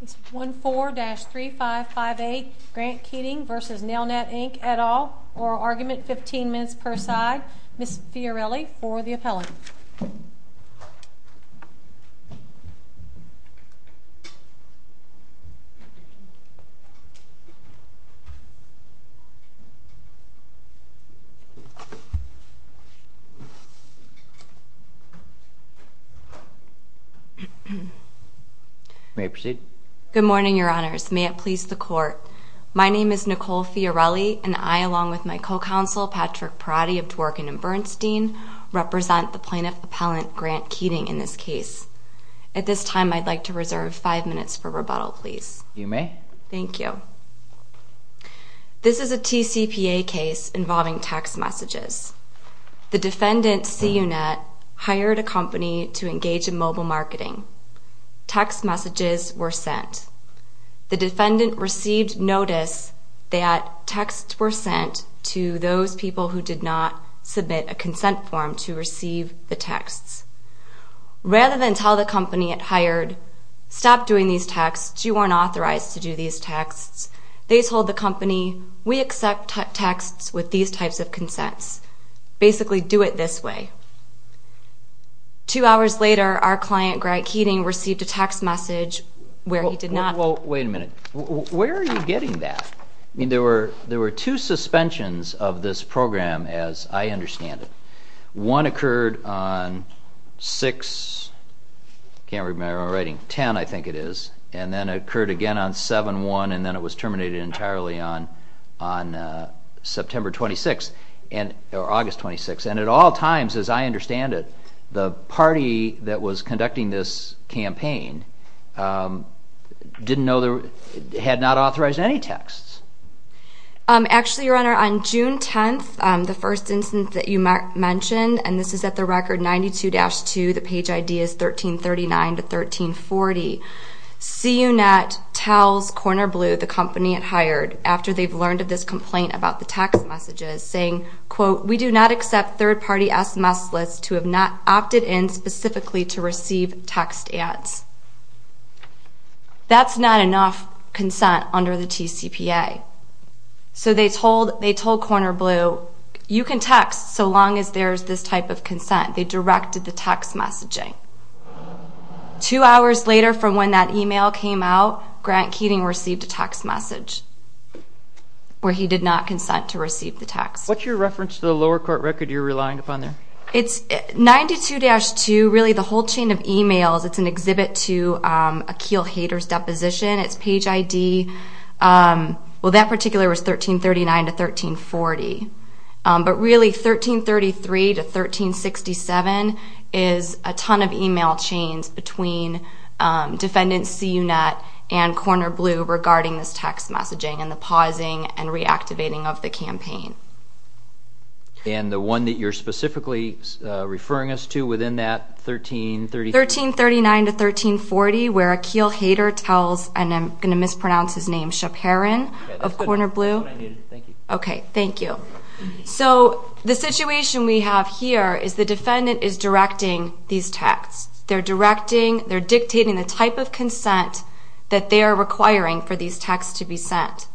Ms. 14-3558, Grant Keating v. Nelnet Inc. et al. Oral argument, 15 minutes per side. Ms. Fiorelli for the appellant. May I proceed? Good morning, Your Honors. May it please the Court, my name is Nicole Fiorelli, and I, along with my co-counsel, Patrick Perotti of Dworkin & Bernstein, represent the plaintiff appellant, Grant Keating, in this case. At this time, I'd like to reserve five minutes for rebuttal, please. You may. Thank you. This is a TCPA case involving text messages. The defendant, C. Unet, hired a company to engage in mobile marketing. Text messages were sent. The defendant received notice that texts were sent to those people who did not submit a consent form to receive the texts. Rather than tell the company it hired, stop doing these texts, you aren't authorized to do these texts, they told the company, we accept texts with these types of consents. Basically, do it this way. Two hours later, our client, Grant Keating, received a text message where he did not... Well, wait a minute. Where are you getting that? I mean, there were two suspensions of this program, as I understand it. One occurred on 6, I can't remember my writing, 10, I think it is, and then it occurred again on 7-1, and then it was terminated entirely on September 26th, or August 26th. And at all times, as I understand it, the party that was conducting this campaign had not authorized any texts. Actually, Your Honor, on June 10th, the first instance that you mentioned, and this is at the record 92-2, the page ID is 1339-1340. C. Unet tells Corner Blue, the company it hired, after they've learned of this complaint about the text messages, saying, quote, we do not accept third-party SMS lists to have not opted in specifically to receive text ads. That's not enough consent under the TCPA. So they told Corner Blue, you can text so long as there's this type of consent. They directed the text messaging. Two hours later from when that email came out, Grant Keating received a text message where he did not consent to receive the text. What's your reference to the lower court record you're relying upon there? It's 92-2, really the whole chain of emails. It's an exhibit to a Keel haters deposition. It's page ID. Well, that particular was 1339-1340. But really, 1333-1367 is a ton of email chains between Defendant C. Unet and Corner Blue regarding this text messaging and the pausing and reactivating of the campaign. And the one that you're specifically referring us to within that 1333? 1339-1340, where a Keel hater tells, and I'm going to mispronounce his name, Shaparin of Corner Blue. That's good. That's what I needed. Thank you. Okay, thank you. So the situation we have here is the defendant is directing these texts. They're directing, they're dictating the type of consent that they are requiring for these texts to be sent.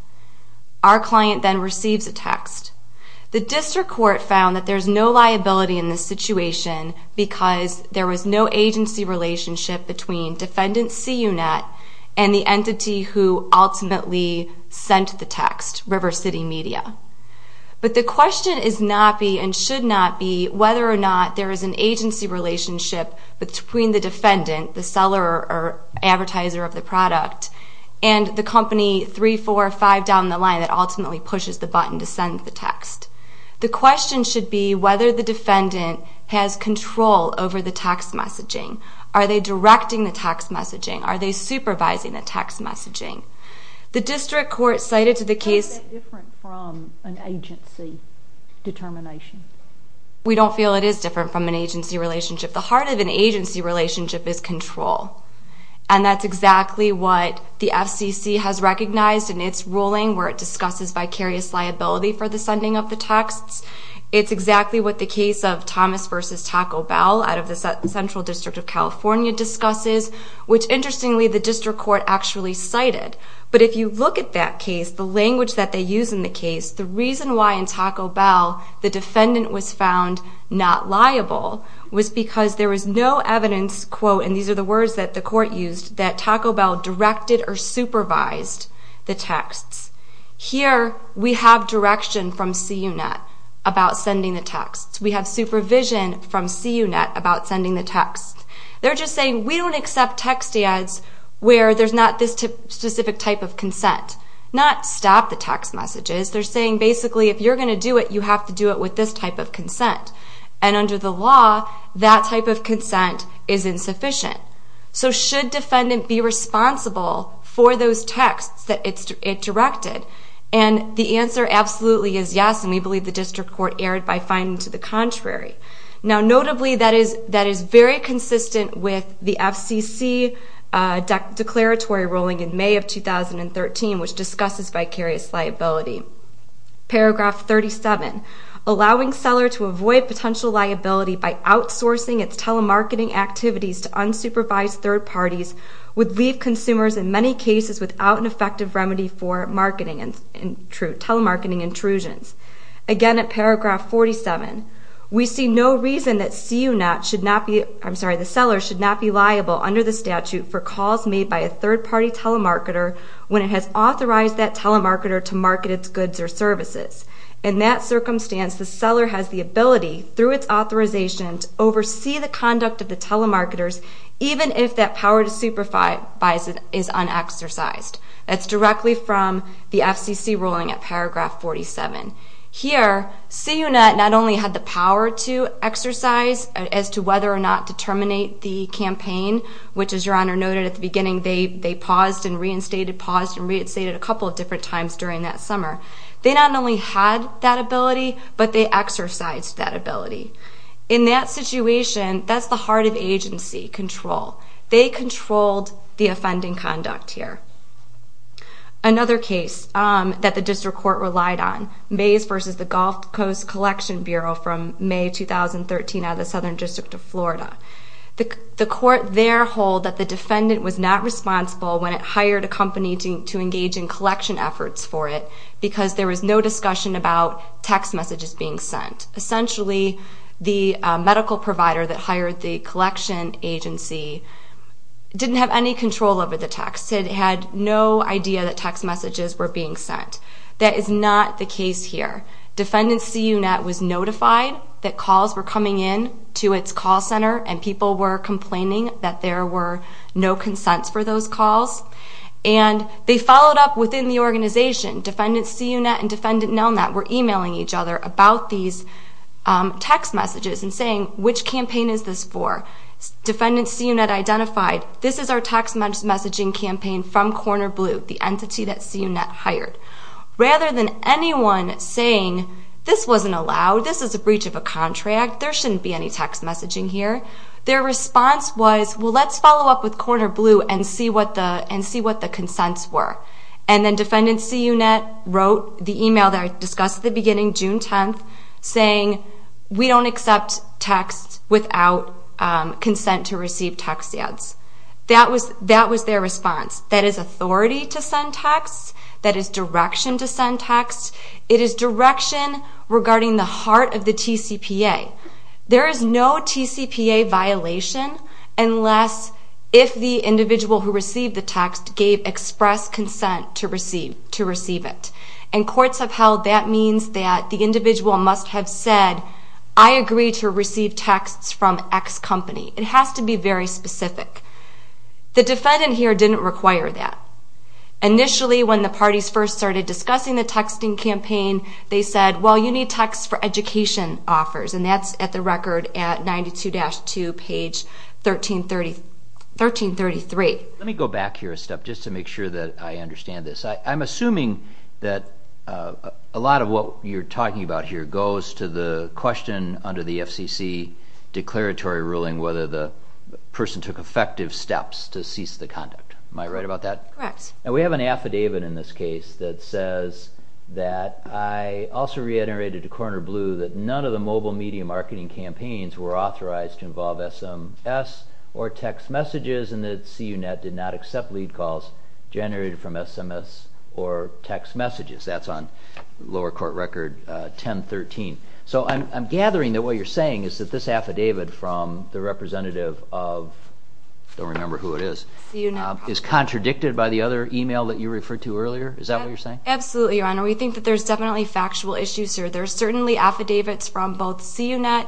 Our client then receives a text. The district court found that there's no liability in this situation because there was no agency relationship between Defendant C. Unet and the entity who ultimately sent the text, River City Media. But the question is not be, and should not be, whether or not there is an agency relationship between the defendant, the seller or advertiser of the product, and the company 3, 4, 5 down the line that ultimately pushes the button to send the text. The question should be whether the defendant has control over the text messaging. Are they directing the text messaging? Are they supervising the text messaging? The district court cited to the case How is that different from an agency determination? We don't feel it is different from an agency relationship. The heart of an agency relationship is control, and that's exactly what the FCC has recognized in its ruling where it discusses vicarious liability for the sending of the texts. It's exactly what the case of Thomas v. Taco Bell out of the Central District of California discusses, which, interestingly, the district court actually cited. But if you look at that case, the language that they use in the case, the reason why in Taco Bell the defendant was found not liable was because there was no evidence, quote, and these are the words that the court used, that Taco Bell directed or supervised the texts. Here we have direction from CUNET about sending the texts. We have supervision from CUNET about sending the texts. They're just saying we don't accept text ads where there's not this specific type of consent. Not stop the text messages. They're saying basically if you're going to do it, you have to do it with this type of consent. And under the law, that type of consent is insufficient. So should defendant be responsible for those texts that it directed? And the answer absolutely is yes, and we believe the district court erred by finding to the contrary. Now, notably, that is very consistent with the FCC declaratory ruling in May of 2013, which discusses vicarious liability. Paragraph 37, allowing seller to avoid potential liability by outsourcing its telemarketing activities to unsupervised third parties would leave consumers in many cases without an effective remedy for telemarketing intrusions. Again, at paragraph 47, we see no reason that CUNET should not be, I'm sorry, the seller should not be liable under the statute for calls made by a third-party telemarketer when it has authorized that telemarketer to market its goods or services. In that circumstance, the seller has the ability, through its authorization, to oversee the conduct of the telemarketers even if that power to supervise it is unexercised. That's directly from the FCC ruling at paragraph 47. Here, CUNET not only had the power to exercise as to whether or not to terminate the campaign, which, as Your Honor noted at the beginning, they paused and reinstated, paused and reinstated a couple of different times during that summer. They not only had that ability, but they exercised that ability. In that situation, that's the heart of agency control. They controlled the offending conduct here. Another case that the district court relied on, Mays v. The Gulf Coast Collection Bureau from May 2013 out of the Southern District of Florida. The court there hold that the defendant was not responsible when it hired a company to engage in collection efforts for it because there was no discussion about text messages being sent. Essentially, the medical provider that hired the collection agency didn't have any control over the text. It had no idea that text messages were being sent. That is not the case here. Defendant CUNET was notified that calls were coming in to its call center and people were complaining that there were no consents for those calls. And they followed up within the organization. Defendant CUNET and Defendant NELNET were emailing each other about these text messages and saying, which campaign is this for? Defendant CUNET identified, this is our text messaging campaign from Corner Blue, the entity that CUNET hired. Rather than anyone saying, this wasn't allowed, this is a breach of a contract, there shouldn't be any text messaging here, their response was, well, let's follow up with Corner Blue and see what the consents were. And then Defendant CUNET wrote the email that I discussed at the beginning, June 10th, saying, we don't accept texts without consent to receive text ads. That was their response. That is authority to send texts. That is direction to send texts. It is direction regarding the heart of the TCPA. There is no TCPA violation unless if the individual who received the text gave express consent to receive it. In courts of health, that means that the individual must have said, I agree to receive texts from X company. It has to be very specific. The defendant here didn't require that. Initially, when the parties first started discussing the texting campaign, they said, well, you need texts for education offers, and that's at the record at 92-2, page 1333. Let me go back here a step just to make sure that I understand this. I'm assuming that a lot of what you're talking about here goes to the question under the FCC declaratory ruling whether the person took effective steps to cease the conduct. Am I right about that? Correct. We have an affidavit in this case that says that I also reiterated to Corner Blue that none of the mobile media marketing campaigns were authorized to involve SMS or text messages, and that CUNET did not accept lead calls generated from SMS or text messages. That's on lower court record 10-13. So I'm gathering that what you're saying is that this affidavit from the representative of, I don't remember who it is, is contradicted by the other email that you referred to earlier. Is that what you're saying? Absolutely, Your Honor. We think that there's definitely factual issues here. There are certainly affidavits from both CUNET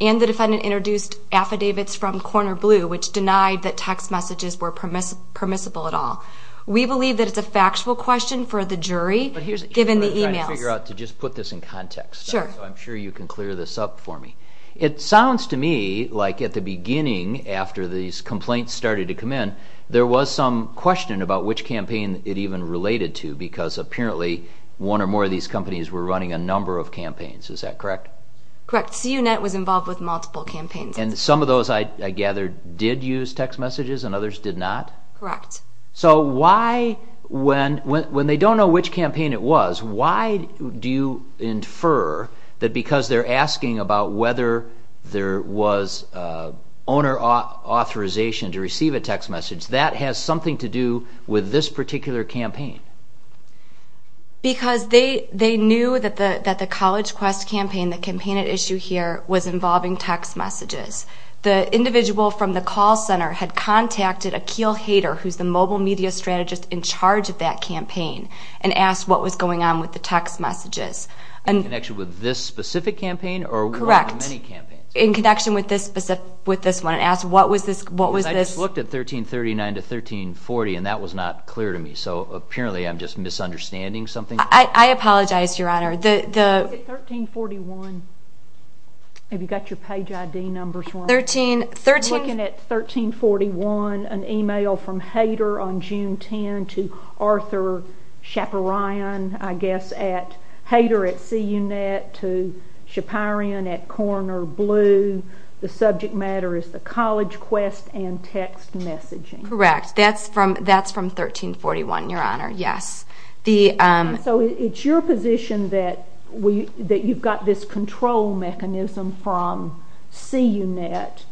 and the defendant introduced affidavits from Corner Blue which denied that text messages were permissible at all. We believe that it's a factual question for the jury given the emails. Let me figure out to just put this in context. I'm sure you can clear this up for me. It sounds to me like at the beginning after these complaints started to come in, there was some question about which campaign it even related to because apparently one or more of these companies were running a number of campaigns. Is that correct? Correct. CUNET was involved with multiple campaigns. And some of those, I gather, did use text messages and others did not? Correct. So why, when they don't know which campaign it was, why do you infer that because they're asking about whether there was owner authorization to receive a text message, that has something to do with this particular campaign? Because they knew that the College Quest campaign, the campaign at issue here, was involving text messages. The individual from the call center had contacted Akeel Haider, who's the mobile media strategist in charge of that campaign, and asked what was going on with the text messages. In connection with this specific campaign? Correct. Or one of the many campaigns? In connection with this one and asked what was this? I just looked at 1339 to 1340 and that was not clear to me, so apparently I'm just misunderstanding something. I apologize, Your Honor. 1341, have you got your page ID numbers wrong? 1341, an email from Haider on June 10 to Arthur Schaperion, I guess, at Haider at CUNET, to Schaperion at Corner Blue. The subject matter is the College Quest and text messaging. Correct. That's from 1341, Your Honor, yes. So it's your position that you've got this control mechanism from CUNET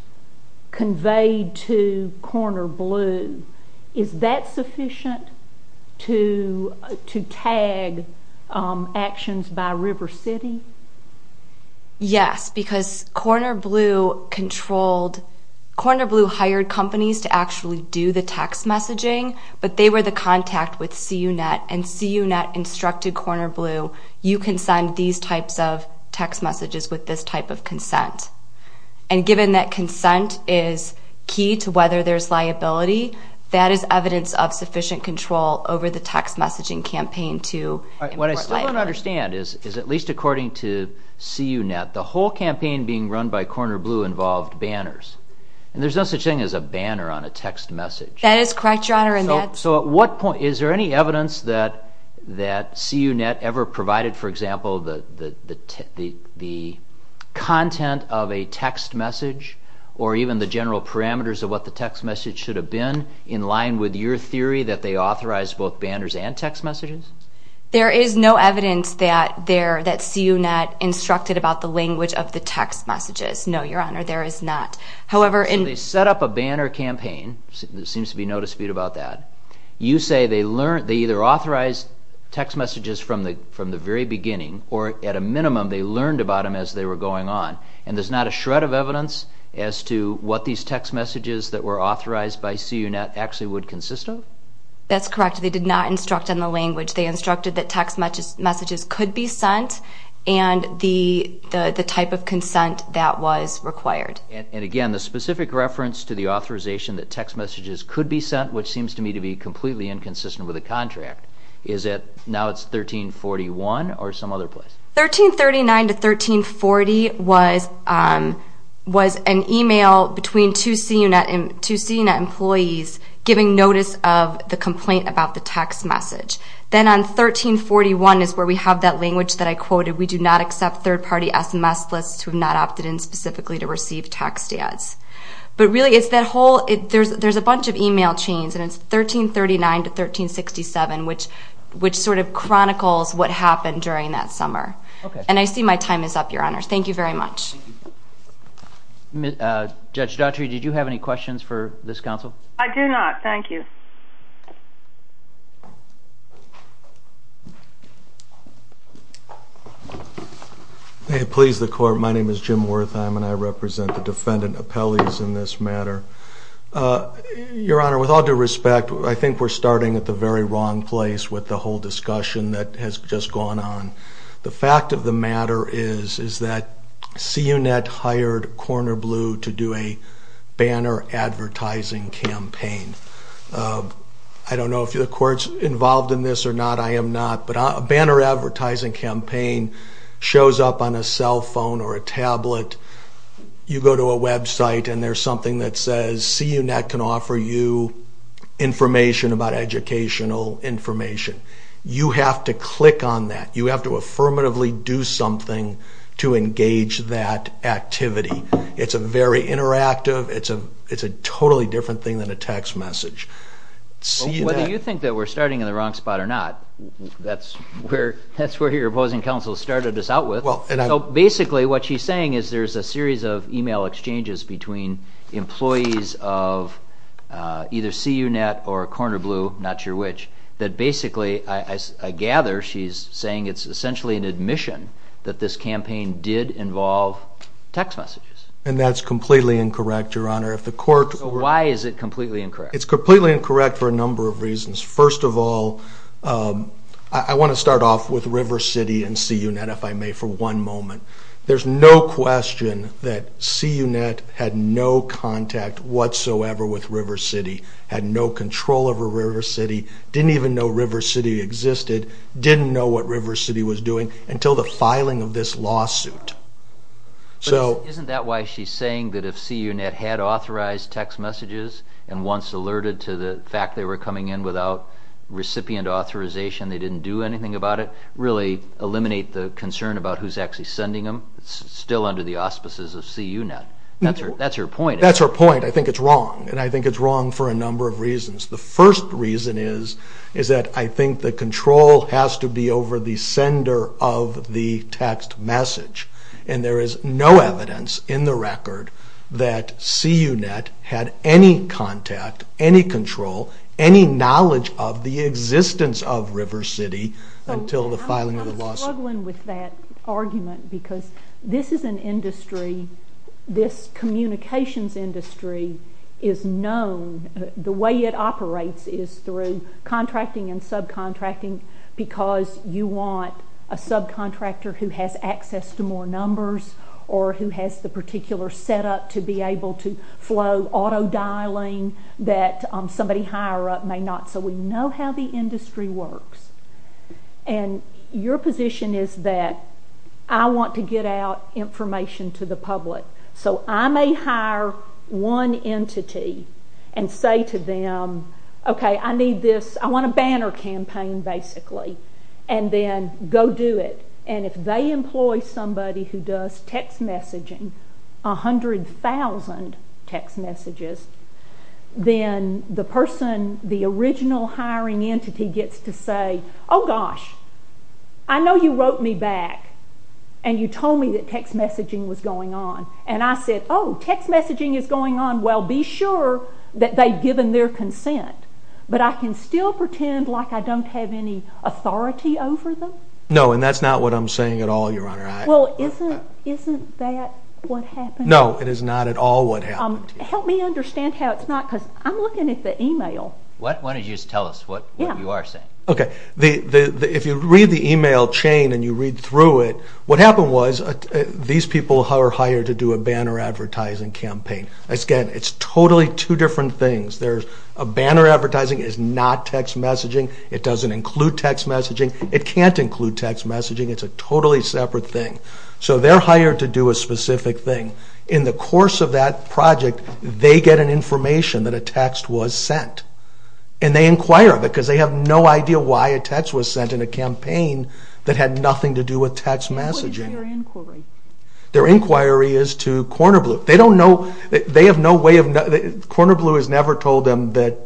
conveyed to Corner Blue. Is that sufficient to tag actions by River City? Yes, because Corner Blue hired companies to actually do the text messaging, but they were the contact with CUNET, and CUNET instructed Corner Blue, you can send these types of text messages with this type of consent. And given that consent is key to whether there's liability, that is evidence of sufficient control over the text messaging campaign to import life. What I still don't understand is, at least according to CUNET, the whole campaign being run by Corner Blue involved banners, and there's no such thing as a banner on a text message. That is correct, Your Honor. So at what point, is there any evidence that CUNET ever provided, for example, the content of a text message or even the general parameters of what the text message should have been in line with your theory that they authorized both banners and text messages? There is no evidence that CUNET instructed about the language of the text messages. No, Your Honor, there is not. So they set up a banner campaign. There seems to be no dispute about that. You say they either authorized text messages from the very beginning or, at a minimum, they learned about them as they were going on, and there's not a shred of evidence as to what these text messages that were authorized by CUNET actually would consist of? That's correct. They did not instruct on the language. They instructed that text messages could be sent and the type of consent that was required. And, again, the specific reference to the authorization that text messages could be sent, which seems to me to be completely inconsistent with the contract, is that now it's 1341 or some other place? 1339 to 1340 was an email between two CUNET employees giving notice of the complaint about the text message. Then on 1341 is where we have that language that I quoted, we do not accept third-party SMS lists who have not opted in specifically to receive text ads. But, really, there's a bunch of email chains, and it's 1339 to 1367, which sort of chronicles what happened during that summer. And I see my time is up, Your Honor. Thank you very much. Judge Daughtry, did you have any questions for this counsel? I do not. Thank you. May it please the Court, my name is Jim Wertheim, and I represent the defendant appellees in this matter. Your Honor, with all due respect, I think we're starting at the very wrong place with the whole discussion that has just gone on. The fact of the matter is that CUNET hired Corner Blue to do a banner advertising campaign. I don't know if the Court's involved in this or not, I am not, but a banner advertising campaign shows up on a cell phone or a tablet. You go to a website, and there's something that says, CUNET can offer you information about educational information. You have to click on that. You have to affirmatively do something to engage that activity. It's very interactive. It's a totally different thing than a text message. Whether you think that we're starting in the wrong spot or not, that's where your opposing counsel started us out with. Basically, what she's saying is there's a series of email exchanges between employees of either CUNET or Corner Blue, not sure which, that basically, I gather she's saying it's essentially an admission that this campaign did involve text messages. That's completely incorrect, Your Honor. Why is it completely incorrect? It's completely incorrect for a number of reasons. First of all, I want to start off with River City and CUNET, if I may, for one moment. There's no question that CUNET had no contact whatsoever with River City, had no control over River City, didn't even know River City existed, didn't know what River City was doing until the filing of this lawsuit. Isn't that why she's saying that if CUNET had authorized text messages and once alerted to the fact they were coming in without recipient authorization, they didn't do anything about it, really eliminate the concern about who's actually sending them? It's still under the auspices of CUNET. That's her point. That's her point. I think it's wrong, and I think it's wrong for a number of reasons. The first reason is that I think the control has to be over the sender of the text message, and there is no evidence in the record that CUNET had any contact, any control, any knowledge of the existence of River City until the filing of the lawsuit. I'm struggling with that argument because this is an industry, this communications industry is known, the way it operates is through contracting and subcontracting because you want a subcontractor who has access to more numbers or who has the particular setup to be able to flow auto-dialing that somebody higher up may not. So we know how the industry works, and your position is that I want to get out information to the public, so I may hire one entity and say to them, okay, I need this, I want a banner campaign basically, and then go do it, and if they employ somebody who does text messaging, 100,000 text messages, then the person, the original hiring entity gets to say, oh gosh, I know you wrote me back, and you told me that text messaging was going on, and I said, oh, text messaging is going on, well, be sure that they've given their consent, but I can still pretend like I don't have any authority over them? No, and that's not what I'm saying at all, Your Honor. Well, isn't that what happened? No, it is not at all what happened to you. Help me understand how it's not, because I'm looking at the email. Why don't you just tell us what you are saying. Okay, if you read the email chain and you read through it, what happened was these people are hired to do a banner advertising campaign. Again, it's totally two different things. A banner advertising is not text messaging. It doesn't include text messaging. It can't include text messaging. It's a totally separate thing. So they're hired to do a specific thing. In the course of that project, they get an information that a text was sent, and they inquire because they have no idea why a text was sent in a campaign that had nothing to do with text messaging. What is their inquiry? Their inquiry is to Corner Blue. They have no way of knowing. Corner Blue has never told them that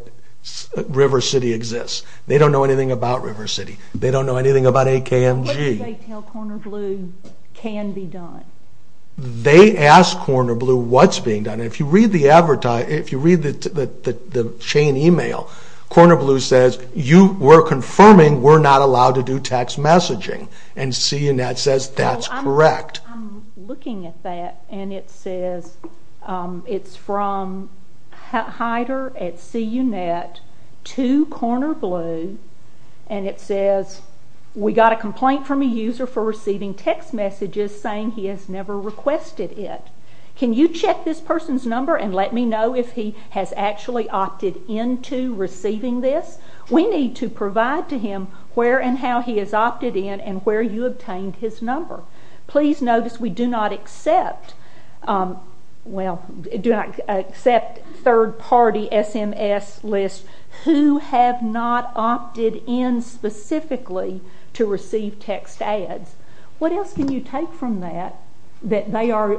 River City exists. They don't know anything about River City. They don't know anything about AKMG. What do they tell Corner Blue can be done? They ask Corner Blue what's being done. If you read the chain email, Corner Blue says, we're confirming we're not allowed to do text messaging, and CNNet says that's correct. I'm looking at that, and it says it's from Heider at CNNet to Corner Blue, and it says, we got a complaint from a user for receiving text messages saying he has never requested it. Can you check this person's number and let me know if he has actually opted into receiving this? We need to provide to him where and how he has opted in and where you obtained his number. Please notice we do not accept third-party SMS lists who have not opted in specifically to receive text ads. What else can you take from that, that they are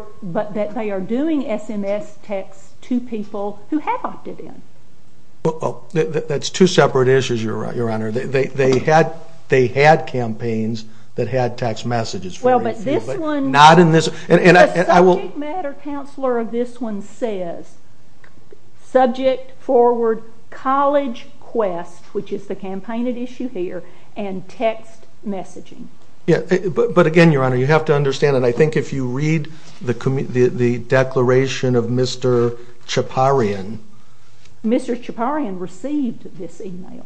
doing SMS texts to people who have opted in? That's two separate issues, Your Honor. They had campaigns that had text messages. Well, but this one... Not in this... The subject matter counselor of this one says, subject forward college quest, which is the campaigned issue here, and text messaging. But again, Your Honor, you have to understand, and I think if you read the declaration of Mr. Chaparian... Mr. Chaparian received this email.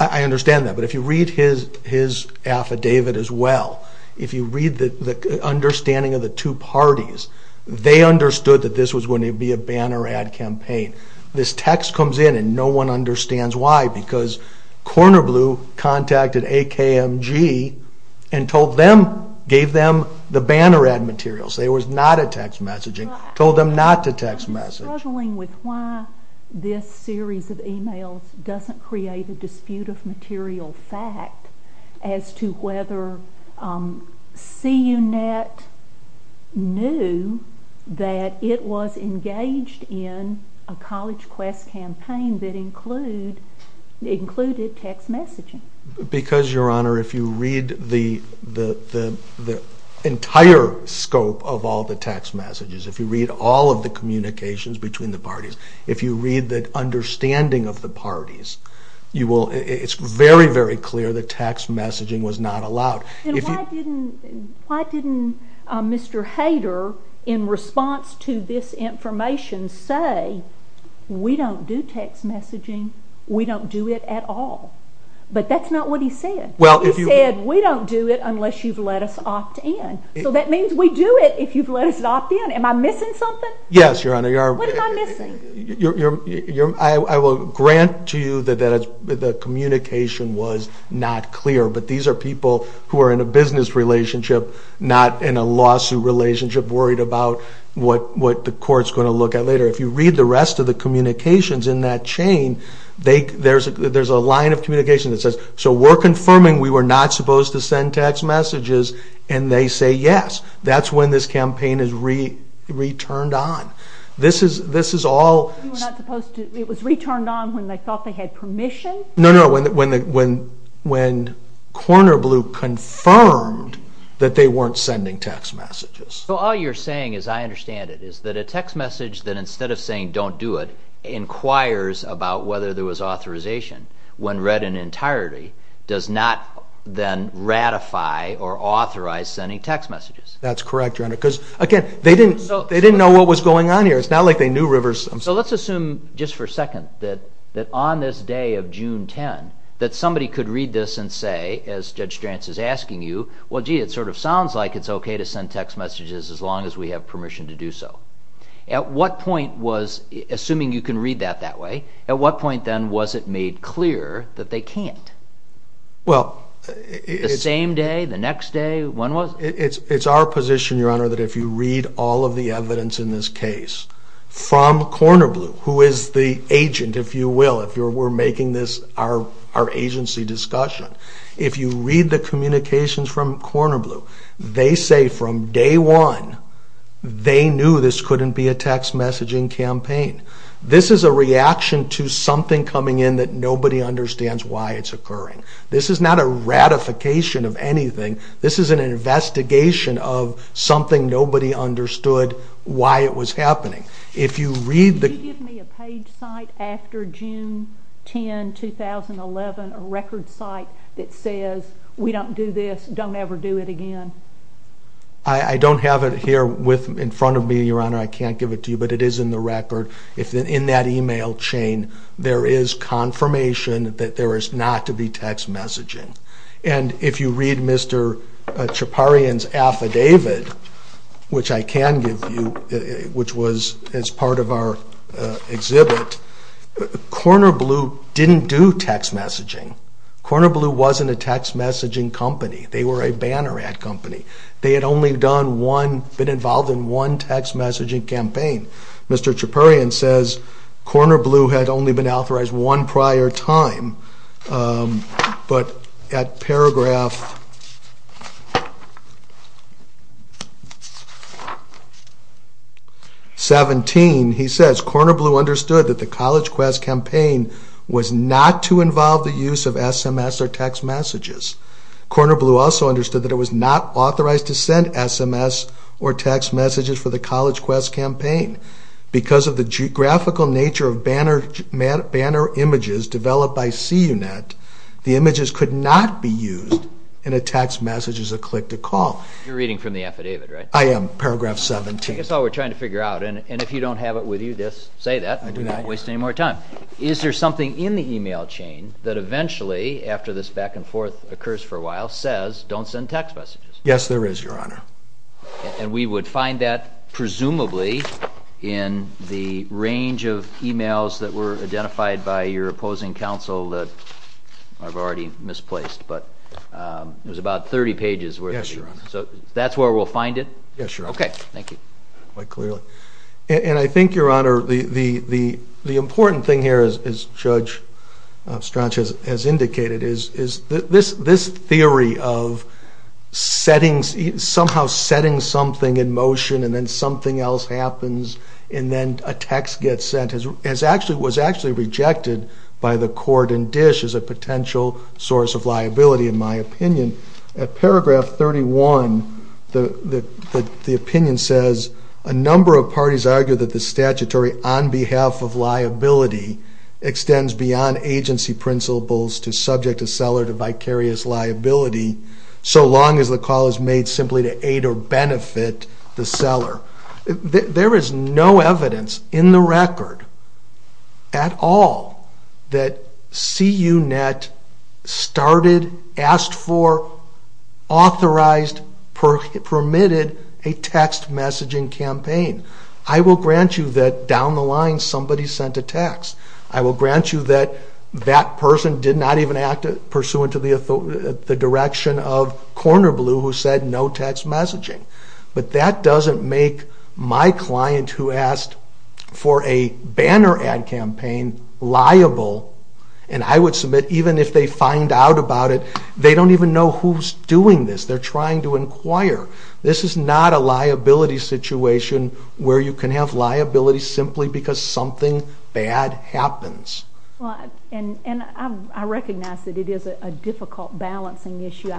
I understand that. But if you read his affidavit as well, if you read the understanding of the two parties, they understood that this was going to be a banner ad campaign. This text comes in and no one understands why because Corner Blue contacted AKMG and told them, gave them the banner ad materials. There was not a text messaging, told them not to text message. I'm struggling with why this series of emails doesn't create a dispute of material fact as to whether CUNET knew that it was engaged in a college quest campaign that included text messaging. Because, Your Honor, if you read the entire scope of all the text messages, if you read all of the communications between the parties, if you read the understanding of the parties, it's very, very clear that text messaging was not allowed. Why didn't Mr. Hader, in response to this information, say, we don't do text messaging, we don't do it at all? But that's not what he said. He said, we don't do it unless you've let us opt in. So that means we do it if you've let us opt in. Am I missing something? Yes, Your Honor. What am I missing? I will grant to you that the communication was not clear, but these are people who are in a business relationship, not in a lawsuit relationship, worried about what the court's going to look at later. If you read the rest of the communications in that chain, there's a line of communication that says, so we're confirming we were not supposed to send text messages, and they say yes. That's when this campaign is returned on. This is all... You were not supposed to... It was returned on when they thought they had permission? No, no, when Corner Blue confirmed that they weren't sending text messages. So all you're saying, as I understand it, is that a text message that, instead of saying don't do it, inquires about whether there was authorization when read in entirety, does not then ratify or authorize sending text messages. That's correct, Your Honor, because, again, they didn't know what was going on here. It's not like they knew Rivers... So let's assume just for a second that on this day of June 10 that somebody could read this and say, as Judge Stranz is asking you, well, gee, it sort of sounds like it's okay to send text messages as long as we have permission to do so. At what point was... Assuming you can read that that way, at what point then was it made clear that they can't? Well... The same day, the next day, when was it? It's our position, Your Honor, that if you read all of the evidence in this case from Corner Blue, who is the agent, if you will, if we're making this our agency discussion, if you read the communications from Corner Blue, they say from day one they knew this couldn't be a text messaging campaign. This is a reaction to something coming in that nobody understands why it's occurring. This is not a ratification of anything. This is an investigation of something nobody understood why it was happening. If you read the... Can you give me a page cite after June 10, 2011, a record cite that says, we don't do this, don't ever do it again? I don't have it here in front of me, Your Honor. I can't give it to you, but it is in the record. In that email chain, there is confirmation that there is not to be text messaging. And if you read Mr. Chaparian's affidavit, which I can give you, which was as part of our exhibit, Corner Blue didn't do text messaging. Corner Blue wasn't a text messaging company. They were a banner ad company. They had only been involved in one text messaging campaign. Mr. Chaparian says Corner Blue had only been authorized one prior time, but at paragraph 17, he says, Corner Blue understood that the College Quest campaign was not to involve the use of SMS or text messages. Corner Blue also understood that it was not authorized to send SMS or text messages for the College Quest campaign. Because of the graphical nature of banner images developed by CUNET, the images could not be used in a text message as a click-to-call. You're reading from the affidavit, right? I am, paragraph 17. That's all we're trying to figure out. And if you don't have it with you, say that. I do not. We don't want to waste any more time. Is there something in the email chain that eventually, after this back-and-forth occurs for a while, says, don't send text messages? Yes, there is, Your Honor. And we would find that, presumably, in the range of emails that were identified by your opposing counsel that I've already misplaced. But it was about 30 pages worth. Yes, Your Honor. So that's where we'll find it? Yes, Your Honor. Okay, thank you. Quite clearly. And I think, Your Honor, the important thing here, as Judge Strachan has indicated, is this theory of somehow setting something in motion and then something else happens and then a text gets sent was actually rejected by the court in Dish as a potential source of liability, in my opinion. At paragraph 31, the opinion says, a number of parties argue that the statutory on behalf of liability extends beyond agency principles to subject a seller to vicarious liability so long as the call is made simply to aid or benefit the seller. There is no evidence in the record at all that CUNET started, asked for, authorized, and permitted a text messaging campaign. I will grant you that down the line somebody sent a text. I will grant you that that person did not even act pursuant to the direction of Corner Blue who said no text messaging. But that doesn't make my client who asked for a banner ad campaign liable, and I would submit even if they find out about it, they don't even know who's doing this. They're trying to inquire. This is not a liability situation where you can have liability simply because something bad happens. And I recognize that it is a difficult balancing issue.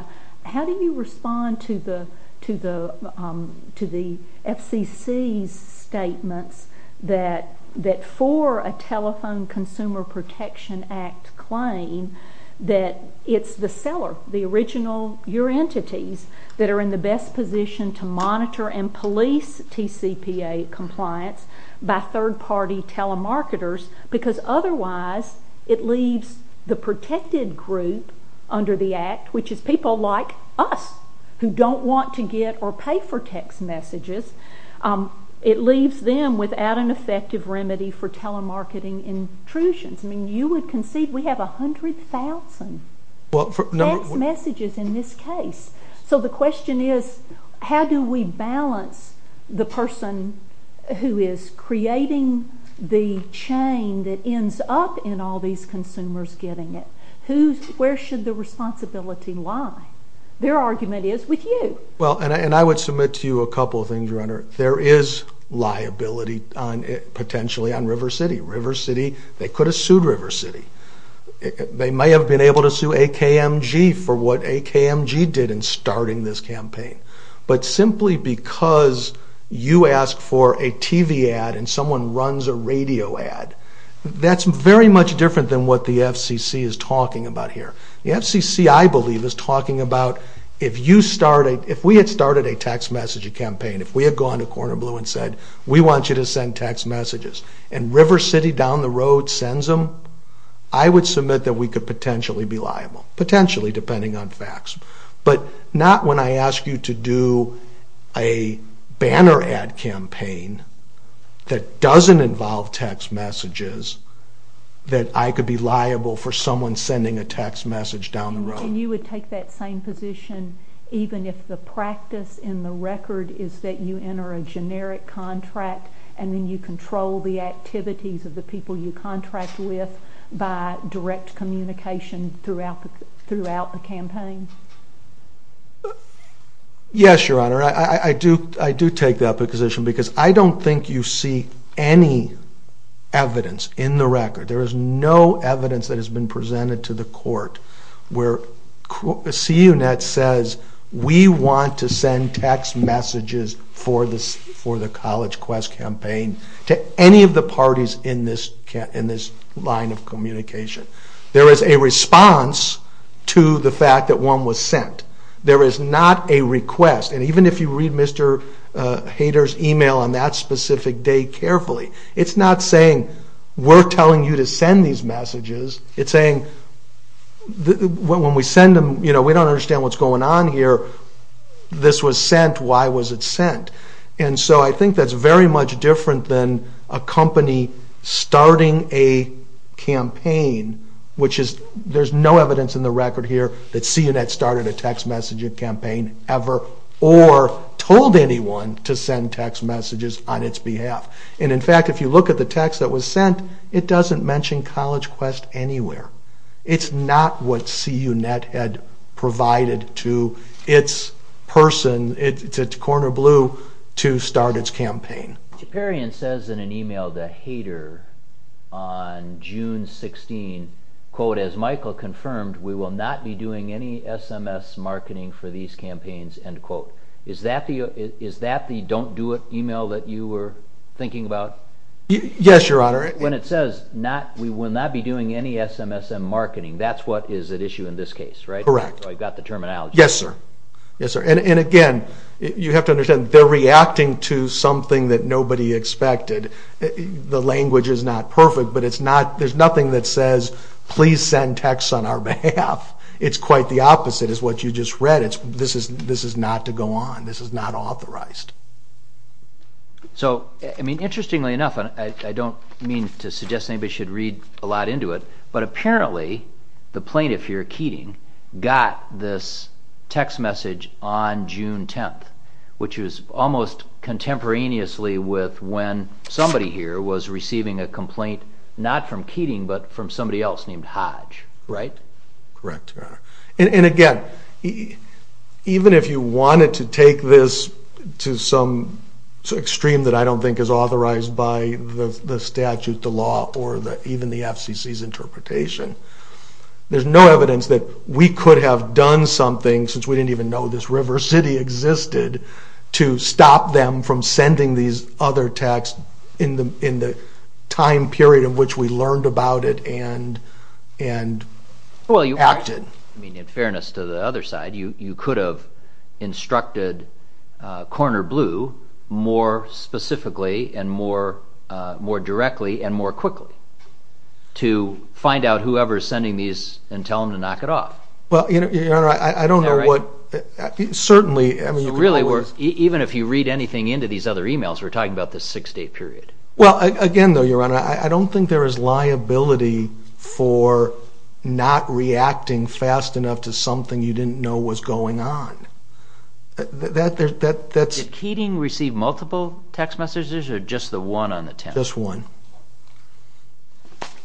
How do you respond to the FCC's statements that for a Telephone Consumer Protection Act claim that it's the seller, the original, your entities that are in the best position to monitor and police TCPA compliance by third-party telemarketers because otherwise it leaves the protected group under the Act, which is people like us who don't want to get or pay for text messages, it leaves them without an effective remedy for telemarketing intrusions. I mean, you would concede we have 100,000 text messages in this case. So the question is how do we balance the person who is creating the chain that ends up in all these consumers getting it? Where should the responsibility lie? Their argument is with you. Well, and I would submit to you a couple of things, Renner. There is liability potentially on River City. River City, they could have sued River City. They may have been able to sue AKMG for what AKMG did in starting this campaign. But simply because you ask for a TV ad and someone runs a radio ad, that's very much different than what the FCC is talking about here. The FCC, I believe, is talking about if we had started a text message campaign, if we had gone to Corner Blue and said, we want you to send text messages, and River City down the road sends them, I would submit that we could potentially be liable. Potentially, depending on facts. But not when I ask you to do a banner ad campaign that doesn't involve text messages that I could be liable for someone sending a text message down the road. And you would take that same position even if the practice in the record is that you enter a generic contract and then you control the activities of the people you contract with by direct communication throughout the campaign? Yes, Your Honor. I do take that position because I don't think you see any evidence in the record. There is no evidence that has been presented to the court where CUNET says, we want to send text messages for the College Quest campaign to any of the parties in this line of communication. There is a response to the fact that one was sent. There is not a request. And even if you read Mr. Hader's email on that specific day carefully, it's not saying, we're telling you to send these messages. It's saying, when we send them, we don't understand what's going on here. This was sent. Why was it sent? And so I think that's very much different than a company starting a campaign, which is, there's no evidence in the record here that CUNET started a text messaging campaign ever or told anyone to send text messages on its behalf. And in fact, if you look at the text that was sent, it doesn't mention College Quest anywhere. It's not what CUNET had provided to its person, its corner blue, to start its campaign. Chaperion says in an email to Hader on June 16, quote, as Michael confirmed, we will not be doing any SMS marketing for these campaigns, end quote. Is that the don't do it email that you were thinking about? Yes, Your Honor. When it says we will not be doing any SMS marketing, that's what is at issue in this case, right? Correct. So I've got the terminology. Yes, sir. Yes, sir. And again, you have to understand, they're reacting to something that nobody expected. The language is not perfect, but it's not, there's nothing that says, please send texts on our behalf. It's quite the opposite is what you just read. This is not to go on. This is not authorized. So, I mean, interestingly enough, I don't mean to suggest anybody should read a lot into it, but apparently the plaintiff here, Keating, got this text message on June 10th, which was almost contemporaneously with when somebody here was receiving a complaint, not from Keating, but from somebody else named Hodge, right? Correct, Your Honor. And again, even if you wanted to take this to some extreme that I don't think is authorized by the statute, the law, or even the FCC's interpretation, there's no evidence that we could have done something, since we didn't even know this river city existed, to stop them from sending these other texts in the time period in which we learned about it and acted. I mean, in fairness to the other side, you could have instructed Corner Blue more specifically and more directly and more quickly to find out whoever is sending these and tell them to knock it off. Well, Your Honor, I don't know what... Certainly, I mean, you could always... Even if you read anything into these other emails, we're talking about this six-day period. Well, again, though, Your Honor, I don't think there is liability for not reacting fast enough to something you didn't know was going on. Did Keating receive multiple text messages or just the one on the 10th? Just one.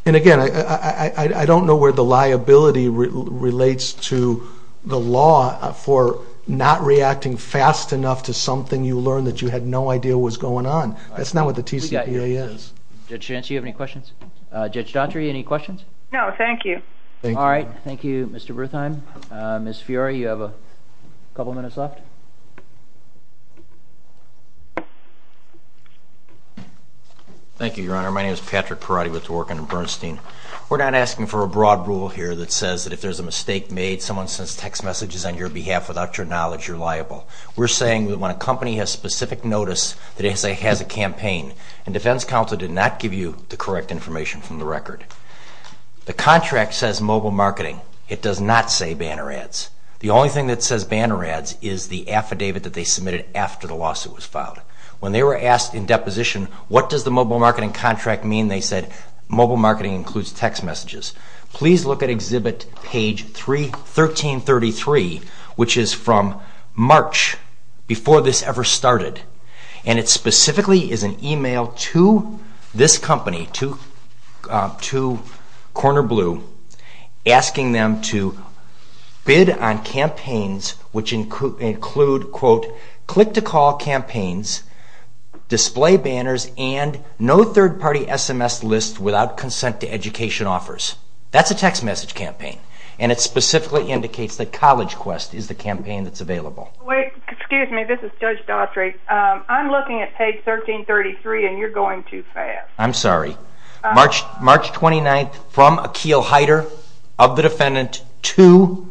And again, I don't know where the liability relates to the law for not reacting fast enough to something you learned that you had no idea was going on. That's not what the TCPA is. Judge Chance, do you have any questions? Judge Daughtry, any questions? No, thank you. All right, thank you, Mr. Bertheim. Ms. Fiori, you have a couple of minutes left. Thank you, Your Honor. My name is Patrick Perotti with the work under Bernstein. We're not asking for a broad rule here that says that if there's a mistake made, someone sends text messages on your behalf without your knowledge, you're liable. We're saying that when a company has specific notice that it has a campaign, and defense counsel did not give you the correct information from the record, the contract says mobile marketing. It does not say banner ads. The only thing that says banner ads is the affidavit that they submitted after the lawsuit was filed. When they were asked in deposition, what does the mobile marketing contract mean, they said mobile marketing includes text messages. Please look at Exhibit Page 1333, which is from March, before this ever started, and it specifically is an email to this company, to Corner Blue, asking them to bid on campaigns which include, quote, click-to-call campaigns, display banners, and no third-party SMS lists without consent to education offers. That's a text message campaign, and it specifically indicates that College Quest is the campaign that's available. Excuse me, this is Judge Daughtry. I'm looking at Page 1333, and you're going too fast. I'm sorry. March 29th, from Akeel Heider, of the defendant, to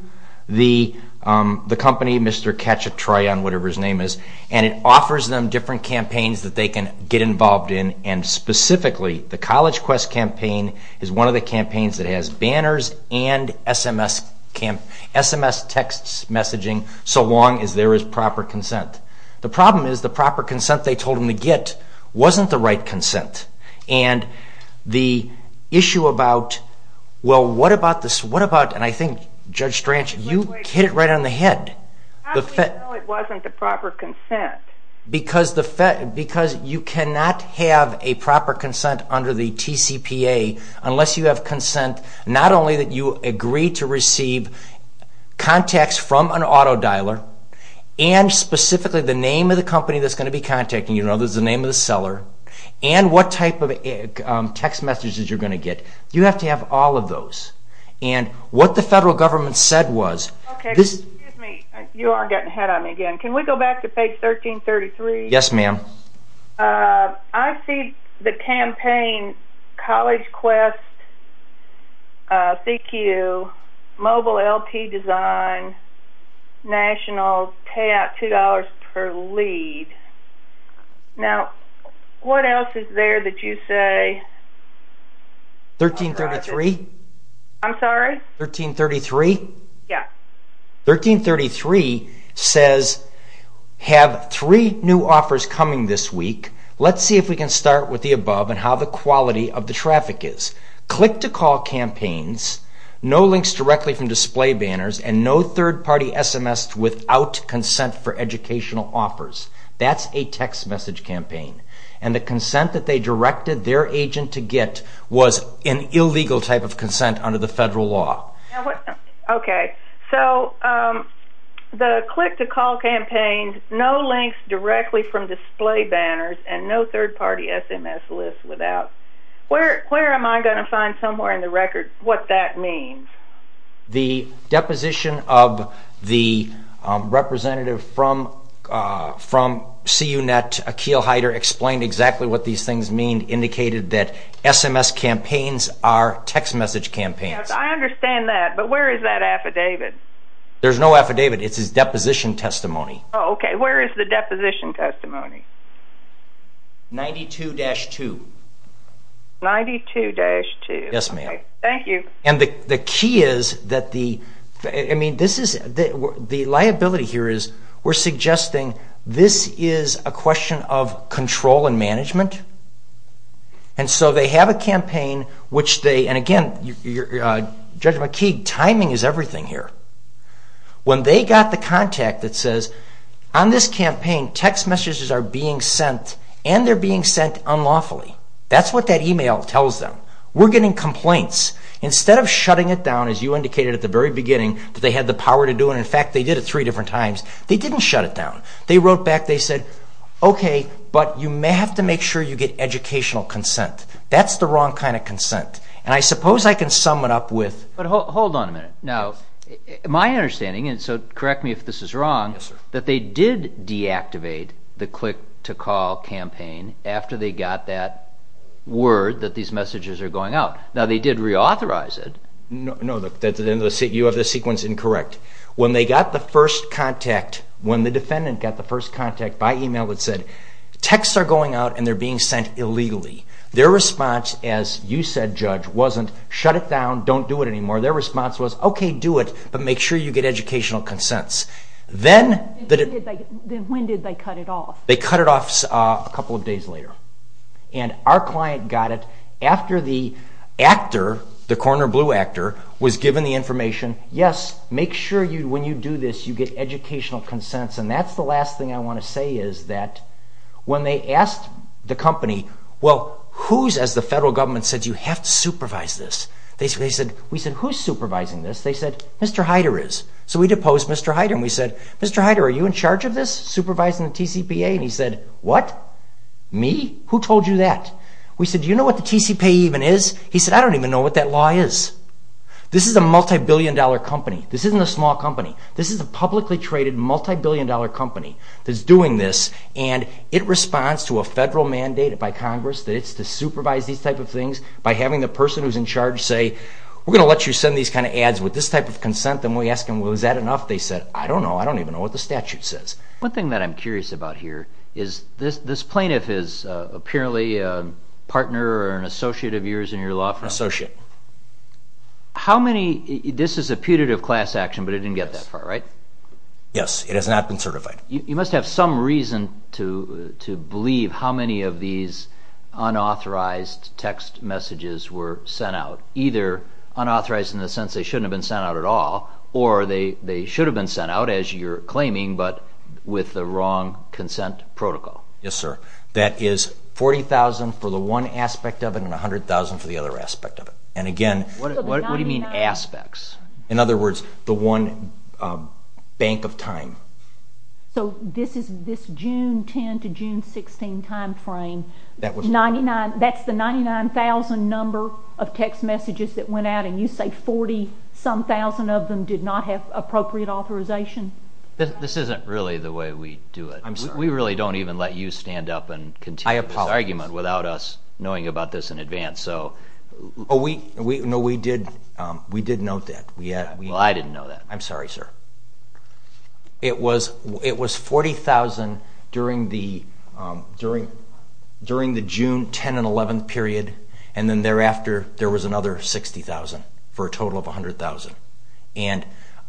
the company, Mr. Catch-a-try-on, whatever his name is, and it offers them different campaigns that they can get involved in, and specifically, the College Quest campaign is one of the campaigns that has banners and SMS text messaging so long as there is proper consent. The problem is the proper consent they told them to get wasn't the right consent, and the issue about, well, what about this, what about, and I think, Judge Strachan, you hit it right on the head. How do we know it wasn't the proper consent? Because you cannot have a proper consent under the TCPA unless you have consent not only that you agree to receive contacts from an auto dialer and specifically the name of the company that's going to be contacting you, there's the name of the seller, and what type of text messages you're going to get. You have to have all of those. And what the federal government said was... Okay, excuse me. You are getting ahead of me again. Can we go back to Page 1333? Yes, ma'am. I see the campaign College Quest, CQ, Mobile LT Design, National, payout $2 per lead. Now, what else is there that you say? 1333? I'm sorry? 1333? Yeah. 1333 says, have three new offers coming this week. Let's see if we can start with the above and how the quality of the traffic is. Click-to-call campaigns, no links directly from display banners, and no third-party SMS without consent for educational offers. That's a text message campaign. And the consent that they directed their agent to get was an illegal type of consent under the federal law. Okay. So, the click-to-call campaign, no links directly from display banners, and no third-party SMS list without... Where am I going to find somewhere in the record what that means? The deposition of the representative from CU-Net, Akil Heider, explained exactly what these things mean, indicated that SMS campaigns are text message campaigns. Yes, I understand that. But where is that affidavit? There's no affidavit. It's his deposition testimony. Oh, okay. Where is the deposition testimony? 92-2. 92-2. Yes, ma'am. Thank you. And the key is that the... I mean, this is... The liability here is we're suggesting this is a question of control and management. And so they have a campaign which they... And again, Judge McKeague, timing is everything here. When they got the contact that says, on this campaign, text messages are being sent, and they're being sent unlawfully, that's what that email tells them. We're getting complaints. Instead of shutting it down, as you indicated at the very beginning, that they had the power to do it, and in fact they did it three different times, they didn't shut it down. They wrote back, they said, okay, but you may have to make sure you get educational consent. That's the wrong kind of consent. And I suppose I can sum it up with... But hold on a minute. Now, my understanding, and so correct me if this is wrong, that they did deactivate the click-to-call campaign after they got that word that these messages are going out. Now, they did reauthorize it. No, you have this sequence incorrect. When they got the first contact, when the defendant got the first contact by email that said, texts are going out and they're being sent illegally, their response, as you said, Judge, wasn't shut it down, don't do it anymore. Their response was, okay, do it, but make sure you get educational consents. Then when did they cut it off? They cut it off a couple of days later. And our client got it after the actor, the corner blue actor, was given the information, yes, make sure when you do this you get educational consents, and that's the last thing I want to say is that when they asked the company, well, who's, as the federal government said, you have to supervise this. We said, who's supervising this? They said, Mr. Hyder is. So we deposed Mr. Hyder and we said, Mr. Hyder, are you in charge of this, supervising the TCPA? And he said, what, me? Who told you that? We said, do you know what the TCPA even is? He said, I don't even know what that law is. This is a multi-billion dollar company. This isn't a small company. This is a publicly traded multi-billion dollar company that's doing this, and it responds to a federal mandate by Congress that it's to supervise these type of things by having the person who's in charge say, we're going to let you send these kind of ads with this type of consent, and we ask them, well, is that enough? They said, I don't know. I don't even know what the statute says. One thing that I'm curious about here is this plaintiff is apparently a partner or an associate of yours in your law firm. Associate. How many, this is a putative class action, but it didn't get that far, right? Yes, it has not been certified. You must have some reason to believe how many of these unauthorized text messages were sent out, either unauthorized in the sense they shouldn't have been sent out at all, or they should have been sent out, as you're claiming, but with the wrong consent protocol. Yes, sir. That is $40,000 for the one aspect of it and $100,000 for the other aspect of it. And again... What do you mean aspects? In other words, the one bank of time. So this June 10 to June 16 timeframe, that's the 99,000 number of text messages that went out and you say 40-some thousand of them did not have appropriate authorization? This isn't really the way we do it. We really don't even let you stand up and continue this argument without us knowing about this in advance. No, we did note that. I didn't know that. I'm sorry, sir. It was $40,000 during the June 10 and 11 period and then thereafter there was another $60,000 for a total of $100,000. And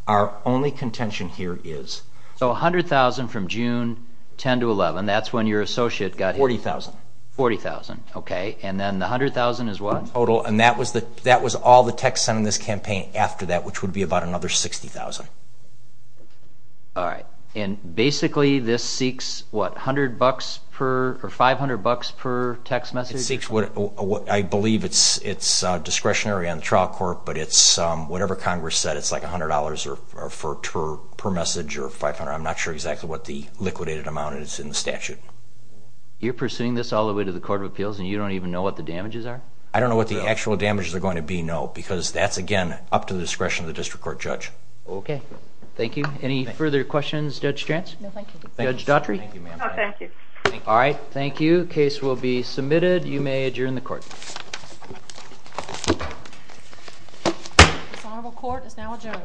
our only contention here is... So $100,000 from June 10 to 11, that's when your associate got here. $40,000. $40,000, okay. And then the $100,000 is what? Total. And that was all the text sent in this campaign after that, which would be about another $60,000. All right. And basically this seeks, what, $100 per or $500 per text message? It seeks... I believe it's discretionary on the trial court, but it's whatever Congress said. It's like $100 per message or $500. I'm not sure exactly what the liquidated amount is in the statute. You're pursuing this all the way to the Court of Appeals and you don't even know what the damages are? I don't know what the actual damages are going to be, no, because that's, again, up to the discretion of the district court judge. Okay. Thank you. Any further questions, Judge Stranz? No, thank you. Judge Daughtry? No, thank you. All right. Thank you. Case will be submitted. You may adjourn the court. This honorable court is now adjourned.